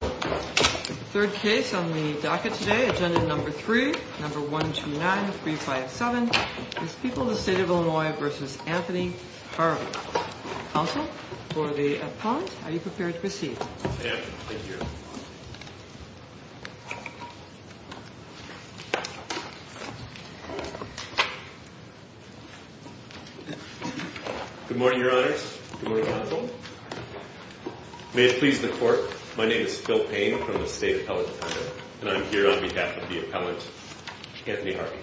Third case on the docket today, agenda number 3, number 129357, is People of the State of Illinois v. Anthony Harvey. Counsel, for the appellant, are you prepared to proceed? I am. Thank you. Good morning, Your Honors. Good morning, Counsel. May it please the Court, my name is Phil Payne from the State Appellate Department, and I'm here on behalf of the appellant, Anthony Harvey.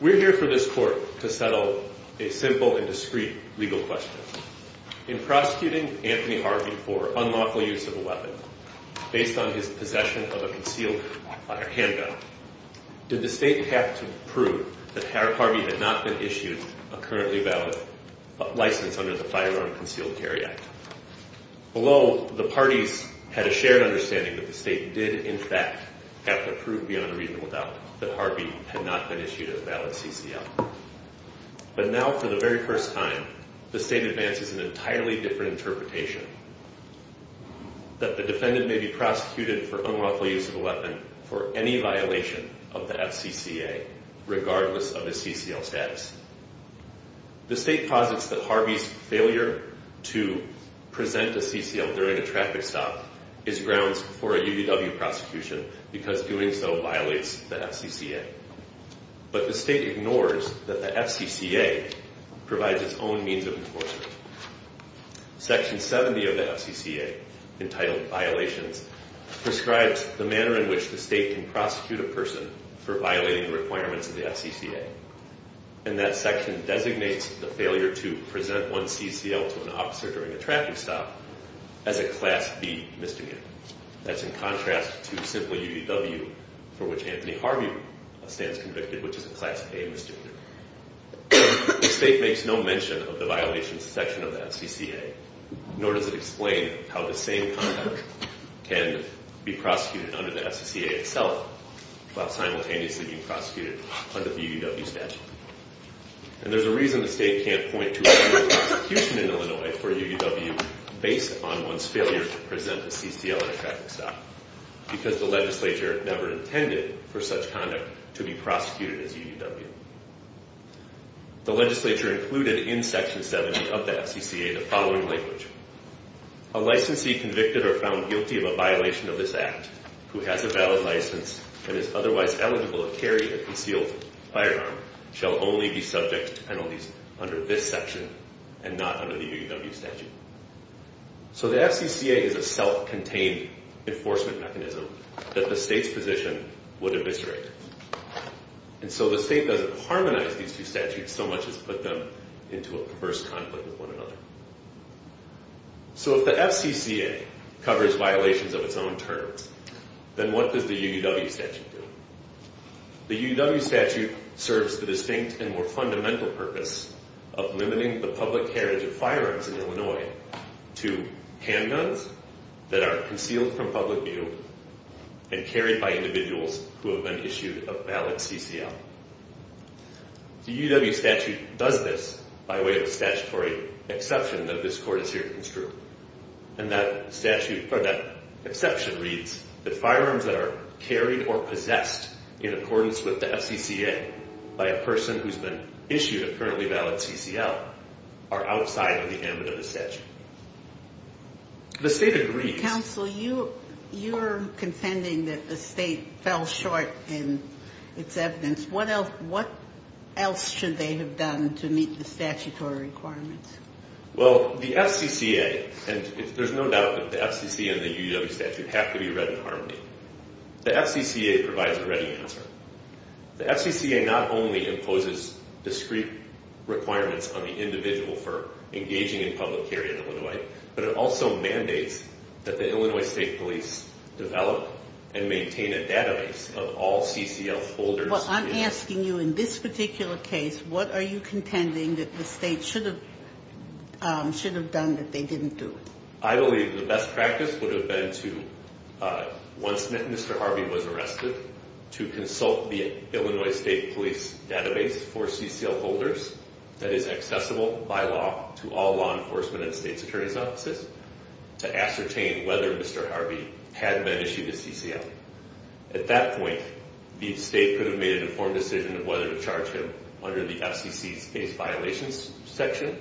We're here for this Court to settle a simple and discreet legal question. In prosecuting Anthony Harvey for unlawful use of a weapon based on his possession of a concealed handgun, did the State have to prove that Harvey had not been issued a currently valid license under the Firearm Concealed Carry Act? Although the parties had a shared understanding that the State did, in fact, have to prove beyond a reasonable doubt that Harvey had not been issued a valid CCL. But now, for the very first time, the State advances an entirely different interpretation. That the defendant may be prosecuted for unlawful use of a weapon for any violation of the FCCA, regardless of his CCL status. The State posits that Harvey's failure to present a CCL during a traffic stop is grounds for a UDW prosecution, because doing so violates the FCCA. But the State ignores that the FCCA provides its own means of enforcement. Section 70 of the FCCA, entitled Violations, prescribes the manner in which the State can prosecute a person for violating the requirements of the FCCA. And that section designates the failure to present one's CCL to an officer during a traffic stop as a Class B misdemeanor. That's in contrast to simple UDW, for which Anthony Harvey stands convicted, which is a Class A misdemeanor. The State makes no mention of the violations section of the FCCA, nor does it explain how the same conduct can be prosecuted under the FCCA itself, while simultaneously being prosecuted under the UDW statute. And there's a reason the State can't point to a UDW prosecution in Illinois for UDW based on one's failure to present a CCL in a traffic stop. Because the Legislature never intended for such conduct to be prosecuted as UDW. The Legislature included in Section 70 of the FCCA the following language. A licensee convicted or found guilty of a violation of this Act, who has a valid license and is otherwise eligible to carry a concealed firearm, shall only be subject to penalties under this section and not under the UDW statute. So the FCCA is a self-contained enforcement mechanism that the State's position would eviscerate. And so the State doesn't harmonize these two statutes so much as put them into a perverse conflict with one another. So if the FCCA covers violations of its own terms, then what does the UDW statute do? The UDW statute serves the distinct and more fundamental purpose of limiting the public carriage of firearms in Illinois to handguns that are concealed from public view and carried by individuals who have been issued a valid CCL. The UDW statute does this by way of a statutory exception that this Court is here to construe. And that statute, or that exception, reads that firearms that are carried or possessed in accordance with the FCCA by a person who's been issued a currently valid CCL are outside of the ambit of the statute. The State agrees. Counsel, you're contending that the State fell short in its evidence. What else should they have done to meet the statutory requirements? Well, the FCCA, and there's no doubt that the FCCA and the UDW statute have to be read in harmony. The FCCA provides a ready answer. The FCCA not only imposes discrete requirements on the individual for engaging in public carry in Illinois, but it also mandates that the Illinois State Police develop and maintain a database of all CCL folders. Well, I'm asking you, in this particular case, what are you contending that the State should have done that they didn't do? I believe the best practice would have been to, once Mr. Harvey was arrested, to consult the Illinois State Police database for CCL folders that is accessible by law to all law enforcement and State's Attorney's offices to ascertain whether Mr. Harvey had been issued a CCL. At that point, the State could have made an informed decision of whether to charge him under the FCC's case violations section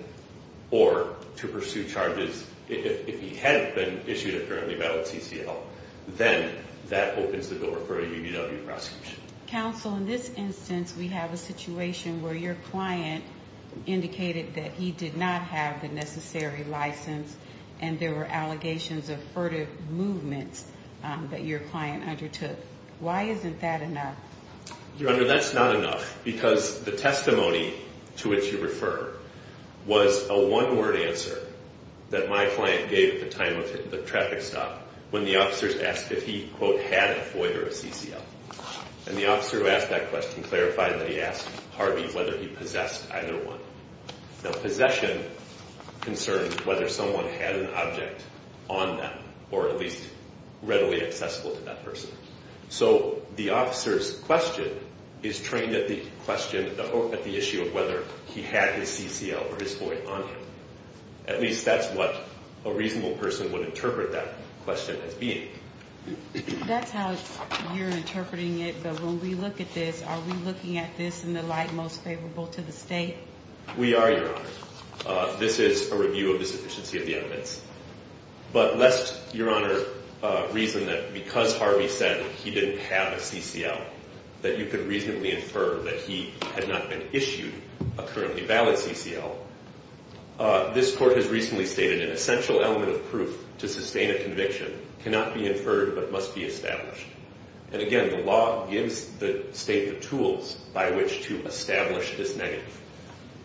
or to pursue charges if he had been issued a currently valid CCL. Then that opens the door for a UDW prosecution. Counsel, in this instance, we have a situation where your client indicated that he did not have the necessary license and there were allegations of furtive movements that your client undertook. Why isn't that enough? Your Honor, that's not enough because the testimony to which you refer was a one-word answer that my client gave at the time of the traffic stop when the officers asked if he, quote, had a FOIA or a CCL. And the officer who asked that question clarified that he asked Harvey whether he possessed either one. Now, possession concerns whether someone had an object on them or at least readily accessible to that person. So the officer's question is trained at the issue of whether he had his CCL or his FOIA on him. At least that's what a reasonable person would interpret that question as being. That's how you're interpreting it. But when we look at this, are we looking at this in the light most favorable to the state? We are, Your Honor. This is a review of the sufficiency of the evidence. But lest Your Honor reason that because Harvey said he didn't have a CCL, that you could reasonably infer that he had not been issued a currently valid CCL, this Court has recently stated an essential element of proof to sustain a conviction cannot be inferred but must be established. And again, the law gives the state the tools by which to establish this negative.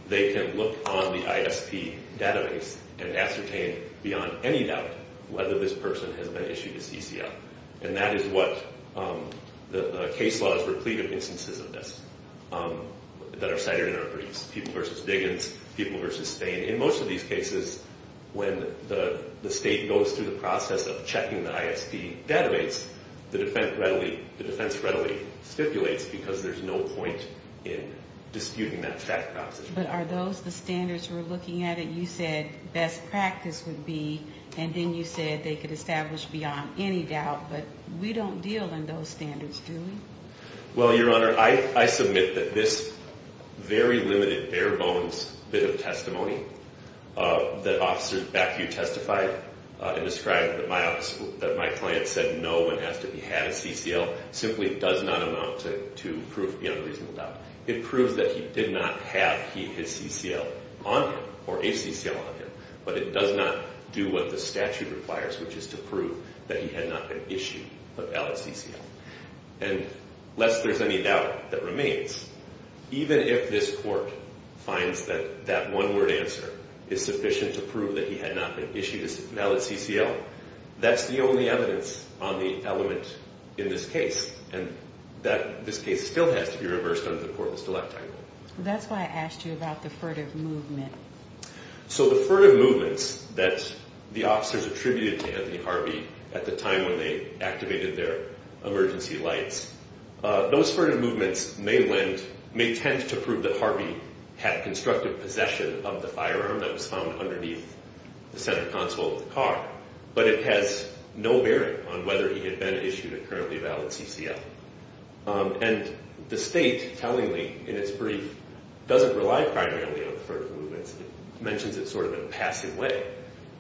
They can look on the ISP database and ascertain beyond any doubt whether this person has been issued a CCL. And that is what the case law is replete of instances of this that are cited in our briefs. People versus Diggins, people versus Stain. In most of these cases, when the state goes through the process of checking the ISP database, the defense readily stipulates because there's no point in disputing that fact process. But are those the standards we're looking at? You said best practice would be, and then you said they could establish beyond any doubt. But we don't deal in those standards, do we? Well, Your Honor, I submit that this very limited, bare bones bit of testimony that officers back here testified and described that my client said no one has to have a CCL simply does not amount to proof beyond reasonable doubt. It proves that he did not have his CCL on him or a CCL on him. But it does not do what the statute requires, which is to prove that he had not been issued a valid CCL. And lest there's any doubt that remains, even if this court finds that that one-word answer is sufficient to prove that he had not been issued a valid CCL, that's the only evidence on the element in this case. And this case still has to be reversed under the Courtless Dilect Act. That's why I asked you about the furtive movement. So the furtive movements that the officers attributed to Anthony Harvey at the time when they activated their emergency lights, those furtive movements may tend to prove that Harvey had constructive possession of the firearm that was found underneath the center console of the car. But it has no bearing on whether he had been issued a currently valid CCL. And the State, tellingly, in its brief, doesn't rely primarily on the furtive movements. It mentions it sort of in a passive way.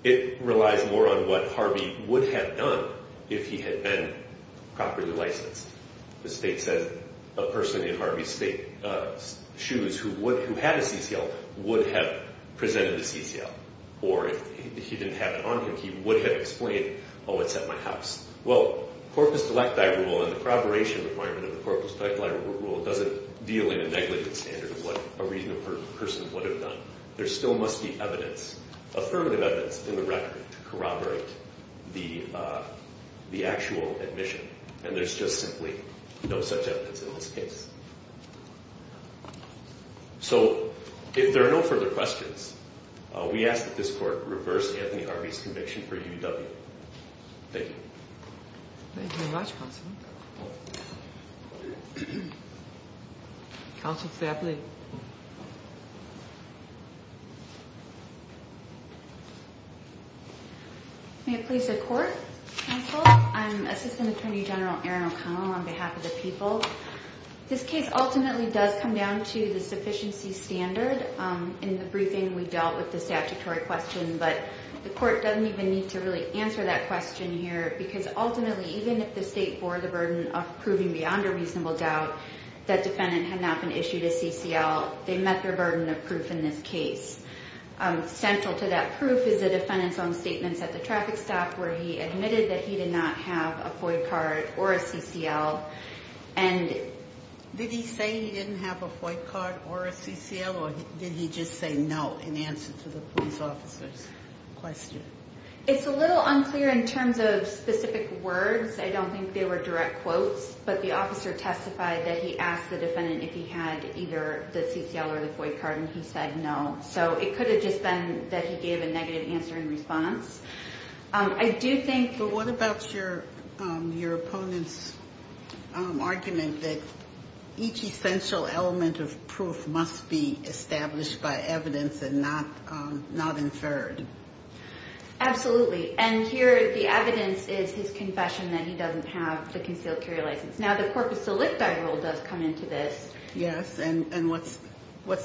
It relies more on what Harvey would have done if he had been properly licensed. The State says a person in Harvey's shoes who had a CCL would have presented a CCL. Or if he didn't have it on him, he would have explained, oh, it's at my house. Well, the Corpus Dilecti Rule and the corroboration requirement of the Corpus Dilecti Rule doesn't deal in a negligent standard of what a reasonable person would have done. There still must be evidence, affirmative evidence, in the record to corroborate the actual admission. And there's just simply no such evidence in this case. So if there are no further questions, we ask that this Court reverse Anthony Harvey's conviction for UW. Thank you. Thank you very much, Counsel. Counsel Fappley. May it please the Court, Counsel. I'm Assistant Attorney General Erin O'Connell on behalf of the people. This case ultimately does come down to the sufficiency standard. In the briefing, we dealt with the statutory question, but the Court doesn't even need to really answer that question here because ultimately, even if the State bore the burden of proving beyond a reasonable doubt that defendant had not been issued a CCL, they met their burden of proof in this case. Central to that proof is the defendant's own statements at the traffic stop where he admitted that he did not have a FOIA card or a CCL. Did he say he didn't have a FOIA card or a CCL, or did he just say no in answer to the police officer's question? It's a little unclear in terms of specific words. I don't think they were direct quotes. But the officer testified that he asked the defendant if he had either the CCL or the FOIA card, and he said no. So it could have just been that he gave a negative answer in response. But what about your opponent's argument that each essential element of proof must be established by evidence and not inferred? Absolutely, and here the evidence is his confession that he doesn't have the concealed carry license. Now, the corpus delicti rule does come into this. Yes, and what's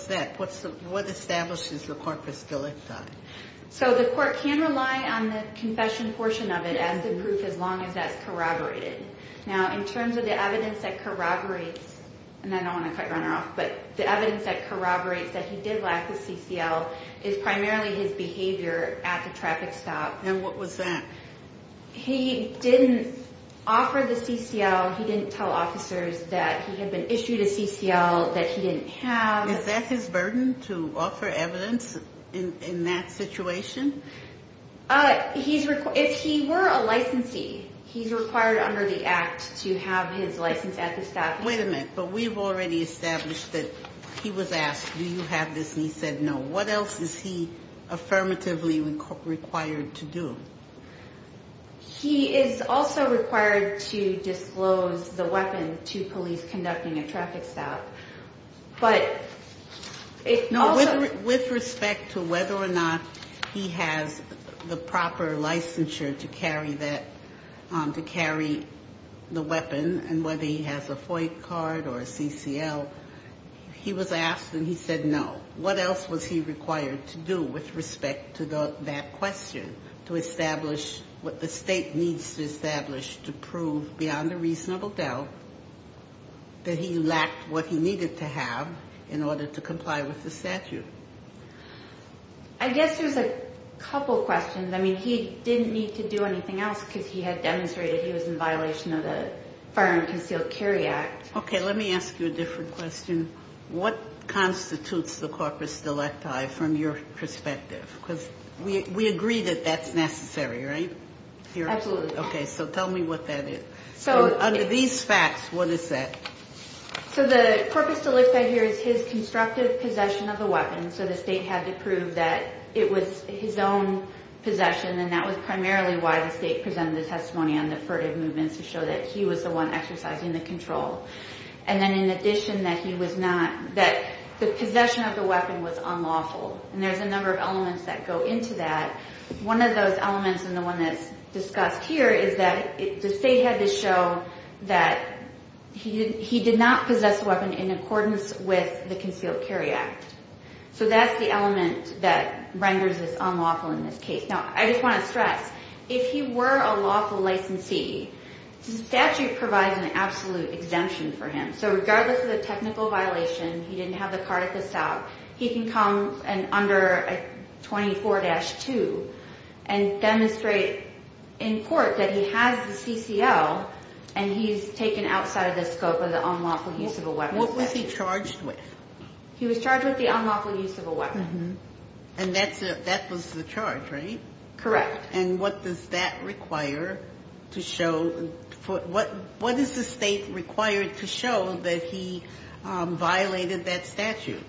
that? What establishes the corpus delicti? So the court can rely on the confession portion of it as the proof as long as that's corroborated. Now, in terms of the evidence that corroborates, and I don't want to cut Runner off, but the evidence that corroborates that he did lack the CCL is primarily his behavior at the traffic stop. And what was that? He didn't offer the CCL. He didn't tell officers that he had been issued a CCL that he didn't have. Is that his burden to offer evidence in that situation? If he were a licensee, he's required under the act to have his license at the stop. Wait a minute, but we've already established that he was asked, do you have this, and he said no. What else is he affirmatively required to do? He is also required to disclose the weapon to police conducting a traffic stop. No, with respect to whether or not he has the proper licensure to carry that, to carry the weapon, and whether he has a FOIA card or a CCL, he was asked and he said no. What else was he required to do with respect to that question, to establish what the state needs to establish to prove beyond a reasonable doubt that he lacked what he needed to have in order to comply with the statute? I guess there's a couple questions. I mean, he didn't need to do anything else because he had demonstrated he was in violation of the Fire Unconcealed Carry Act. Okay, let me ask you a different question. What constitutes the corpus delecti from your perspective? Because we agree that that's necessary, right? Absolutely. Okay, so tell me what that is. So under these facts, what is that? So the corpus delecti here is his constructive possession of the weapon, so the state had to prove that it was his own possession, and that was primarily why the state presented the testimony on the furtive movements to show that he was the one exercising the control. And then in addition, that the possession of the weapon was unlawful, and there's a number of elements that go into that. One of those elements, and the one that's discussed here, is that the state had to show that he did not possess the weapon in accordance with the Concealed Carry Act. So that's the element that renders this unlawful in this case. Now, I just want to stress, if he were a lawful licensee, the statute provides an absolute exemption for him. So regardless of the technical violation, he didn't have the cardicus out, he can come under 24-2 and demonstrate in court that he has the CCL and he's taken outside of the scope of the unlawful use of a weapon. What was he charged with? He was charged with the unlawful use of a weapon. And that was the charge, right? Correct. And what does that require to show? What is the state required to show that he violated that statute?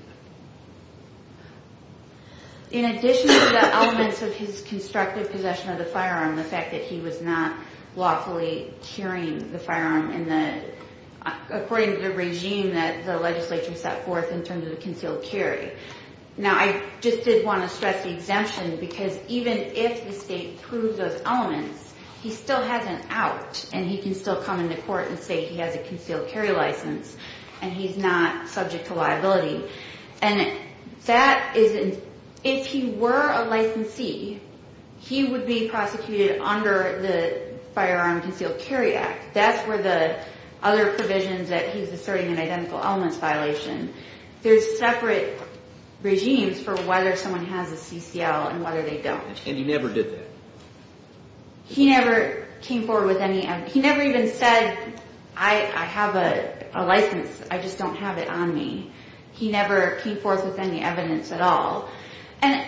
In addition to the elements of his constructive possession of the firearm, the fact that he was not lawfully carrying the firearm in the, according to the regime that the legislature set forth in terms of the Concealed Carry. Now, I just did want to stress the exemption, because even if the state proves those elements, he still has an out, and he can still come into court and say he has a Concealed Carry license and he's not subject to liability. And that is, if he were a licensee, he would be prosecuted under the Firearm Concealed Carry Act. That's where the other provisions that he's asserting an identical elements violation. There's separate regimes for whether someone has a CCL and whether they don't. And he never did that? He never came forward with any evidence. He never even said, I have a license, I just don't have it on me. He never came forth with any evidence at all. And,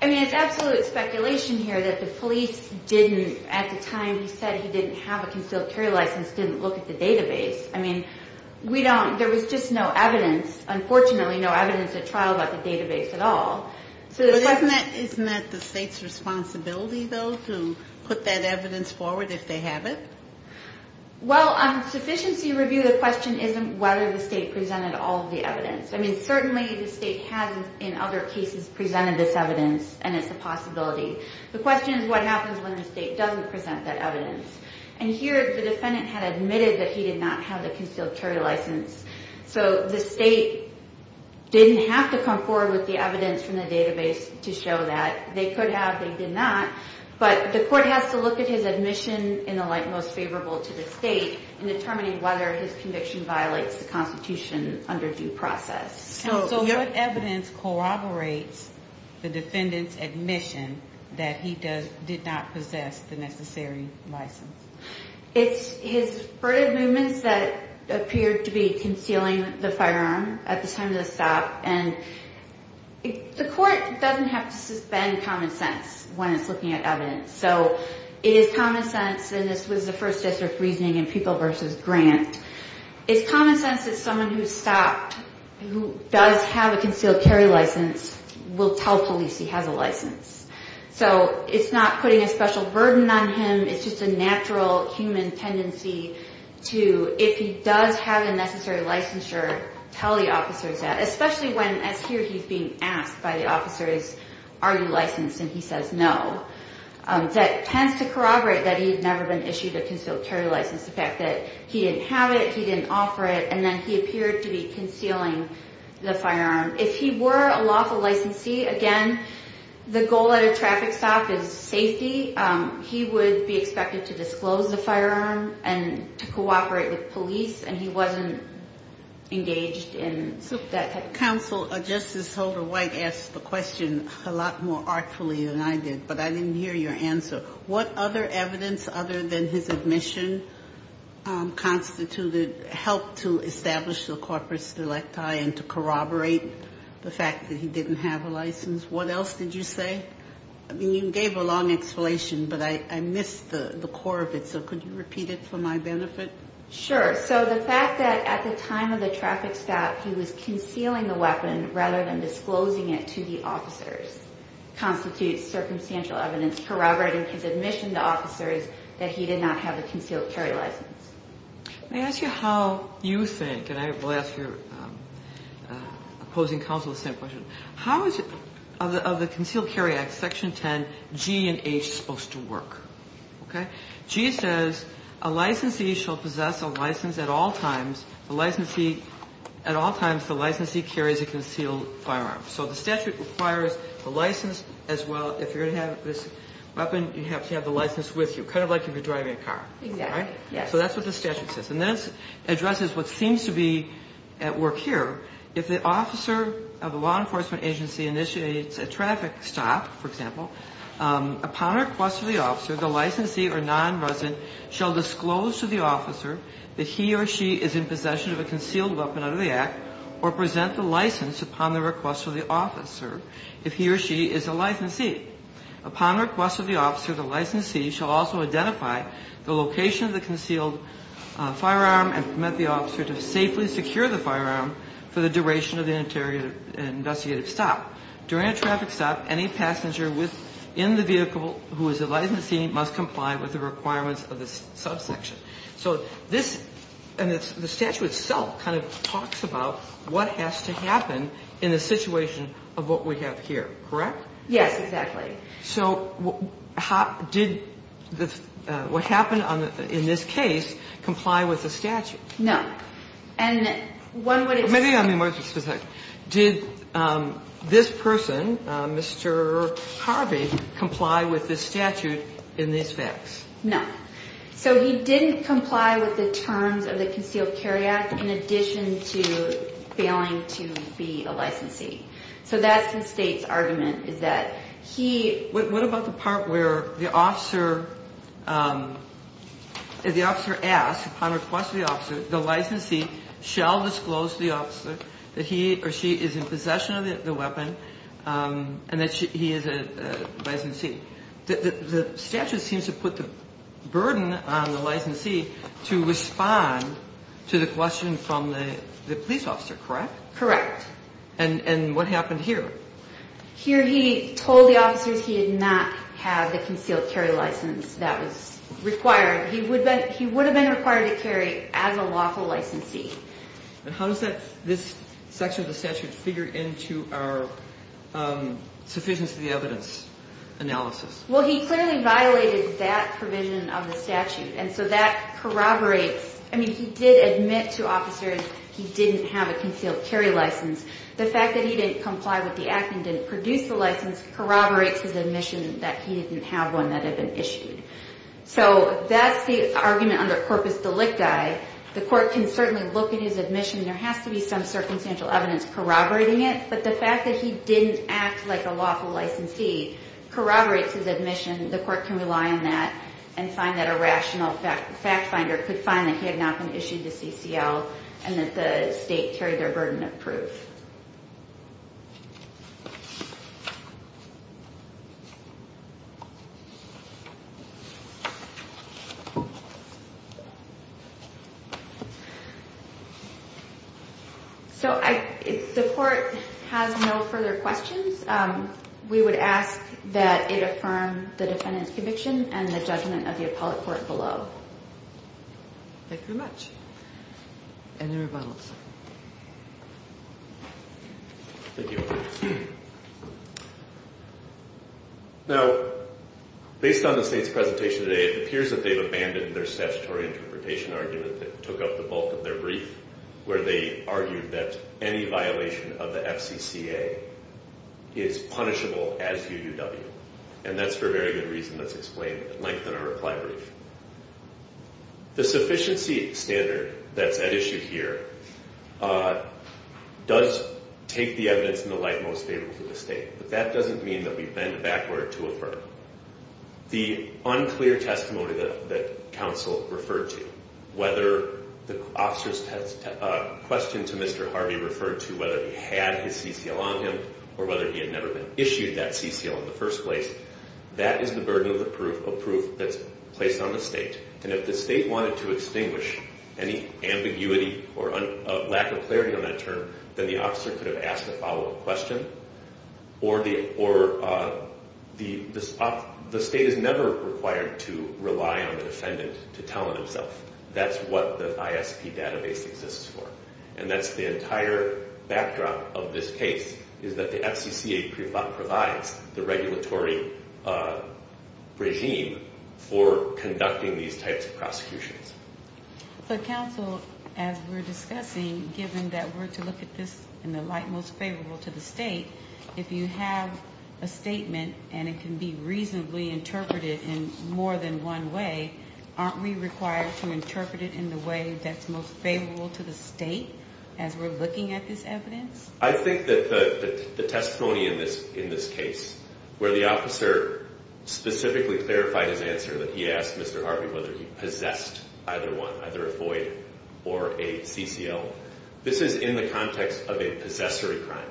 I mean, it's absolute speculation here that the police didn't, at the time he said he didn't have a Concealed Carry license, didn't look at the database. I mean, there was just no evidence. Unfortunately, no evidence at trial about the database at all. Isn't that the state's responsibility, though, to put that evidence forward if they have it? Well, on sufficiency review, the question isn't whether the state presented all of the evidence. I mean, certainly the state has, in other cases, presented this evidence, and it's a possibility. The question is what happens when the state doesn't present that evidence. And here the defendant had admitted that he did not have the Concealed Carry license. So the state didn't have to come forward with the evidence from the database to show that. They could have, they did not. But the court has to look at his admission in the light most favorable to the state in determining whether his conviction violates the Constitution under due process. So what evidence corroborates the defendant's admission that he did not possess the necessary license? It's his furtive movements that appeared to be concealing the firearm at the time of the stop. And the court doesn't have to suspend common sense when it's looking at evidence. So it is common sense, and this was the first district reasoning in People v. Grant. It's common sense that someone who stopped, who does have a Concealed Carry license, will tell police he has a license. So it's not putting a special burden on him. It's just a natural human tendency to, if he does have a necessary licensure, tell the officers that, especially when, as here he's being asked by the officers, are you licensed, and he says no. That tends to corroborate that he had never been issued a Concealed Carry license, the fact that he didn't have it, he didn't offer it, and then he appeared to be concealing the firearm. If he were a lawful licensee, again, the goal at a traffic stop is safety. He would be expected to disclose the firearm and to cooperate with police, and he wasn't engaged in that type of thing. Counsel, Justice Holder-White asked the question a lot more artfully than I did, but I didn't hear your answer. What other evidence, other than his admission, constituted help to establish the corpus delicti and to corroborate the fact that he didn't have a license? What else did you say? I mean, you gave a long explanation, but I missed the core of it, so could you repeat it for my benefit? Sure. So the fact that at the time of the traffic stop, he was concealing the weapon rather than disclosing it to the officers constitutes circumstantial evidence corroborating his admission to officers that he did not have a concealed carry license. May I ask you how you think, and I will ask your opposing counsel the same question, how is it of the Concealed Carry Act, Section 10, G and H supposed to work? G says a licensee shall possess a license at all times. At all times, the licensee carries a concealed firearm. So the statute requires the license as well. If you're going to have this weapon, you have to have the license with you, kind of like if you're driving a car. Exactly. So that's what the statute says. And that addresses what seems to be at work here. If the officer of a law enforcement agency initiates a traffic stop, for example, upon request of the officer, the licensee or nonresident shall disclose to the officer that he or she is in possession of a concealed weapon under the Act or present the license upon the request of the officer if he or she is a licensee. Upon request of the officer, the licensee shall also identify the location of the concealed firearm and permit the officer to safely secure the firearm for the duration of the interrogative and investigative stop. During a traffic stop, any passenger within the vehicle who is a licensee must comply with the requirements of the subsection. So this, and the statute itself kind of talks about what has to happen in the situation of what we have here. Correct? Yes, exactly. So did what happened in this case comply with the statute? No. And one would expect. Maybe I'm more specific. Did this person, Mr. Harvey, comply with this statute in these facts? No. So he didn't comply with the terms of the Concealed Carry Act in addition to failing to be a licensee. So that's the state's argument is that he. What about the part where the officer asks, upon request of the officer, the licensee shall disclose to the officer that he or she is in possession of the weapon and that he is a licensee. The statute seems to put the burden on the licensee to respond to the question from the police officer, correct? Correct. And what happened here? Here he told the officers he did not have the concealed carry license that was required. He would have been required to carry as a lawful licensee. And how does this section of the statute figure into our sufficiency of the evidence analysis? Well, he clearly violated that provision of the statute, and so that corroborates. I mean, he did admit to officers he didn't have a concealed carry license. The fact that he didn't comply with the act and didn't produce the license corroborates his admission that he didn't have one that had been issued. So that's the argument under corpus delicti. The court can certainly look at his admission. There has to be some circumstantial evidence corroborating it. But the fact that he didn't act like a lawful licensee corroborates his admission. The court can rely on that and find that a rational fact finder could find that he had not been issued the CCL and that the state carried their burden of proof. So the court has no further questions. We would ask that it affirm the defendant's conviction and the judgment of the appellate court below. Thank you very much. Any rebuttals? Thank you. Now, based on the state's presentation today, it appears that they've abandoned their statutory interpretation argument that took up the bulk of their brief, where they argued that any violation of the FCCA is punishable as UDW. And that's for a very good reason that's explained at length in our reply brief. The sufficiency standard that's at issue here does take the evidence in the light most favorable to the state. But that doesn't mean that we bend backward to affirm. The unclear testimony that counsel referred to, whether the officer's question to Mr. Harvey referred to whether he had his CCL on him or whether he had never been issued that CCL in the first place, that is the burden of proof that's placed on the state. And if the state wanted to extinguish any ambiguity or lack of clarity on that term, then the officer could have asked a follow-up question, or the state is never required to rely on the defendant to tell it himself. That's what the ISP database exists for. And that's the entire backdrop of this case, is that the FCCA provides the regulatory regime for conducting these types of prosecutions. So, counsel, as we're discussing, given that we're to look at this in the light most favorable to the state, if you have a statement and it can be reasonably interpreted in more than one way, aren't we required to interpret it in the way that's most favorable to the state as we're looking at this evidence? I think that the testimony in this case, where the officer specifically clarified his answer, that he asked Mr. Harvey whether he possessed either one, either a FOIA or a CCL, this is in the context of a possessory crime.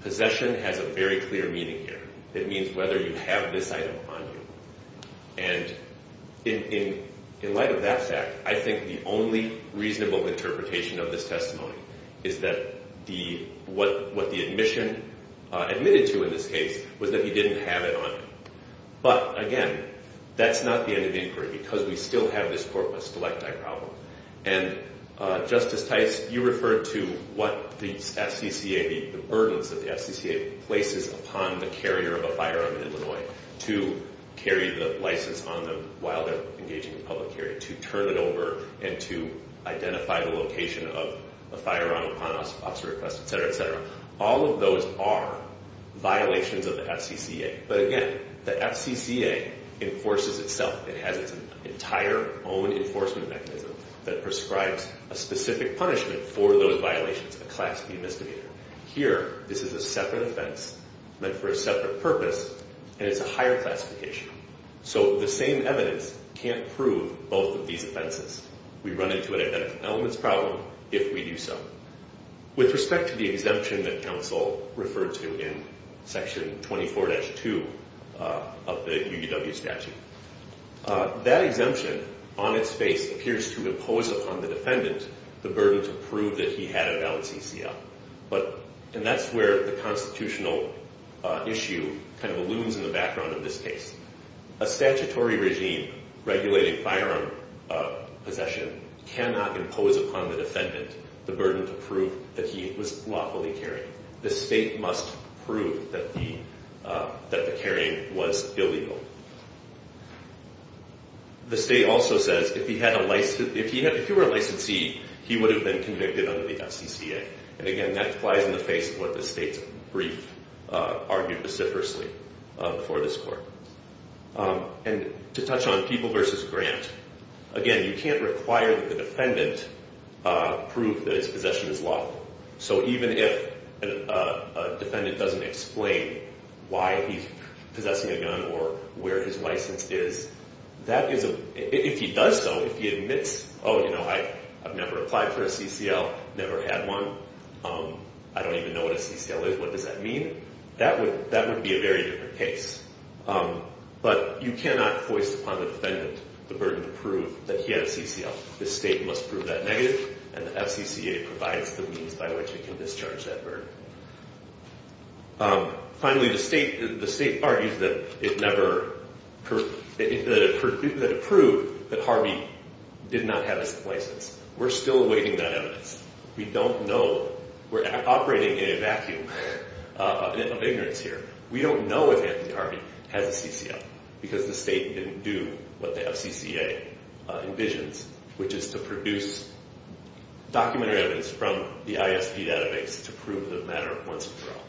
Possession has a very clear meaning here. It means whether you have this item on you. And in light of that fact, I think the only reasonable interpretation of this testimony is that what the admission admitted to in this case was that he didn't have it on him. But, again, that's not the end of the inquiry because we still have this corpus delicti problem. And, Justice Tice, you referred to what the FCCA, the burdens that the FCCA places upon the carrier of a firearm in Illinois to carry the license on them while they're engaging in public carry, to turn it over and to identify the location of a firearm upon officer request, et cetera, et cetera. All of those are violations of the FCCA. But, again, the FCCA enforces itself. It has its entire own enforcement mechanism that prescribes a specific punishment for those violations, a class B misdemeanor. Here, this is a separate offense meant for a separate purpose, and it's a higher classification. So the same evidence can't prove both of these offenses. We run into an identical elements problem if we do so. With respect to the exemption that counsel referred to in Section 24-2 of the UW statute, that exemption on its face appears to impose upon the defendant the burden to prove that he had a valid CCL. And that's where the constitutional issue kind of looms in the background of this case. A statutory regime regulating firearm possession cannot impose upon the defendant the burden to prove that he was lawfully carried. The state must prove that the carrying was illegal. The state also says if he were a licensee, he would have been convicted under the FCCA. And, again, that applies in the face of what the state's brief argued vociferously for this court. And to touch on people versus grant, again, you can't require that the defendant prove that his possession is lawful. So even if a defendant doesn't explain why he's possessing a gun or where his license is, if he does so, if he admits, oh, you know, I've never applied for a CCL, never had one, I don't even know what a CCL is, what does that mean? That would be a very different case. But you cannot foist upon the defendant the burden to prove that he had a CCL. The state must prove that negative, and the FCCA provides the means by which it can discharge that burden. Finally, the state argues that it never – that it proved that Harvey did not have a license. We're still awaiting that evidence. We don't know. We're operating in a vacuum of ignorance here. We don't know if Anthony Harvey has a CCL because the state didn't do what the FCCA envisions, which is to produce documentary evidence from the ISP database to prove the matter once and for all.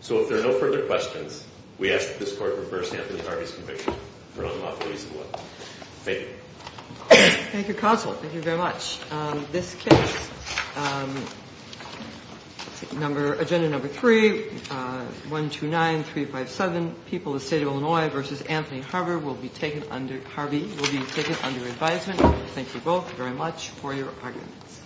So if there are no further questions, we ask that this court reverse Anthony Harvey's conviction for unlawful use of a weapon. Thank you. Thank you, counsel. Thank you very much. This case, number – agenda number 3, 129357, People of the State of Illinois v. Anthony Harvey will be taken under – Harvey will be taken under advisement. Thank you both very much for your arguments.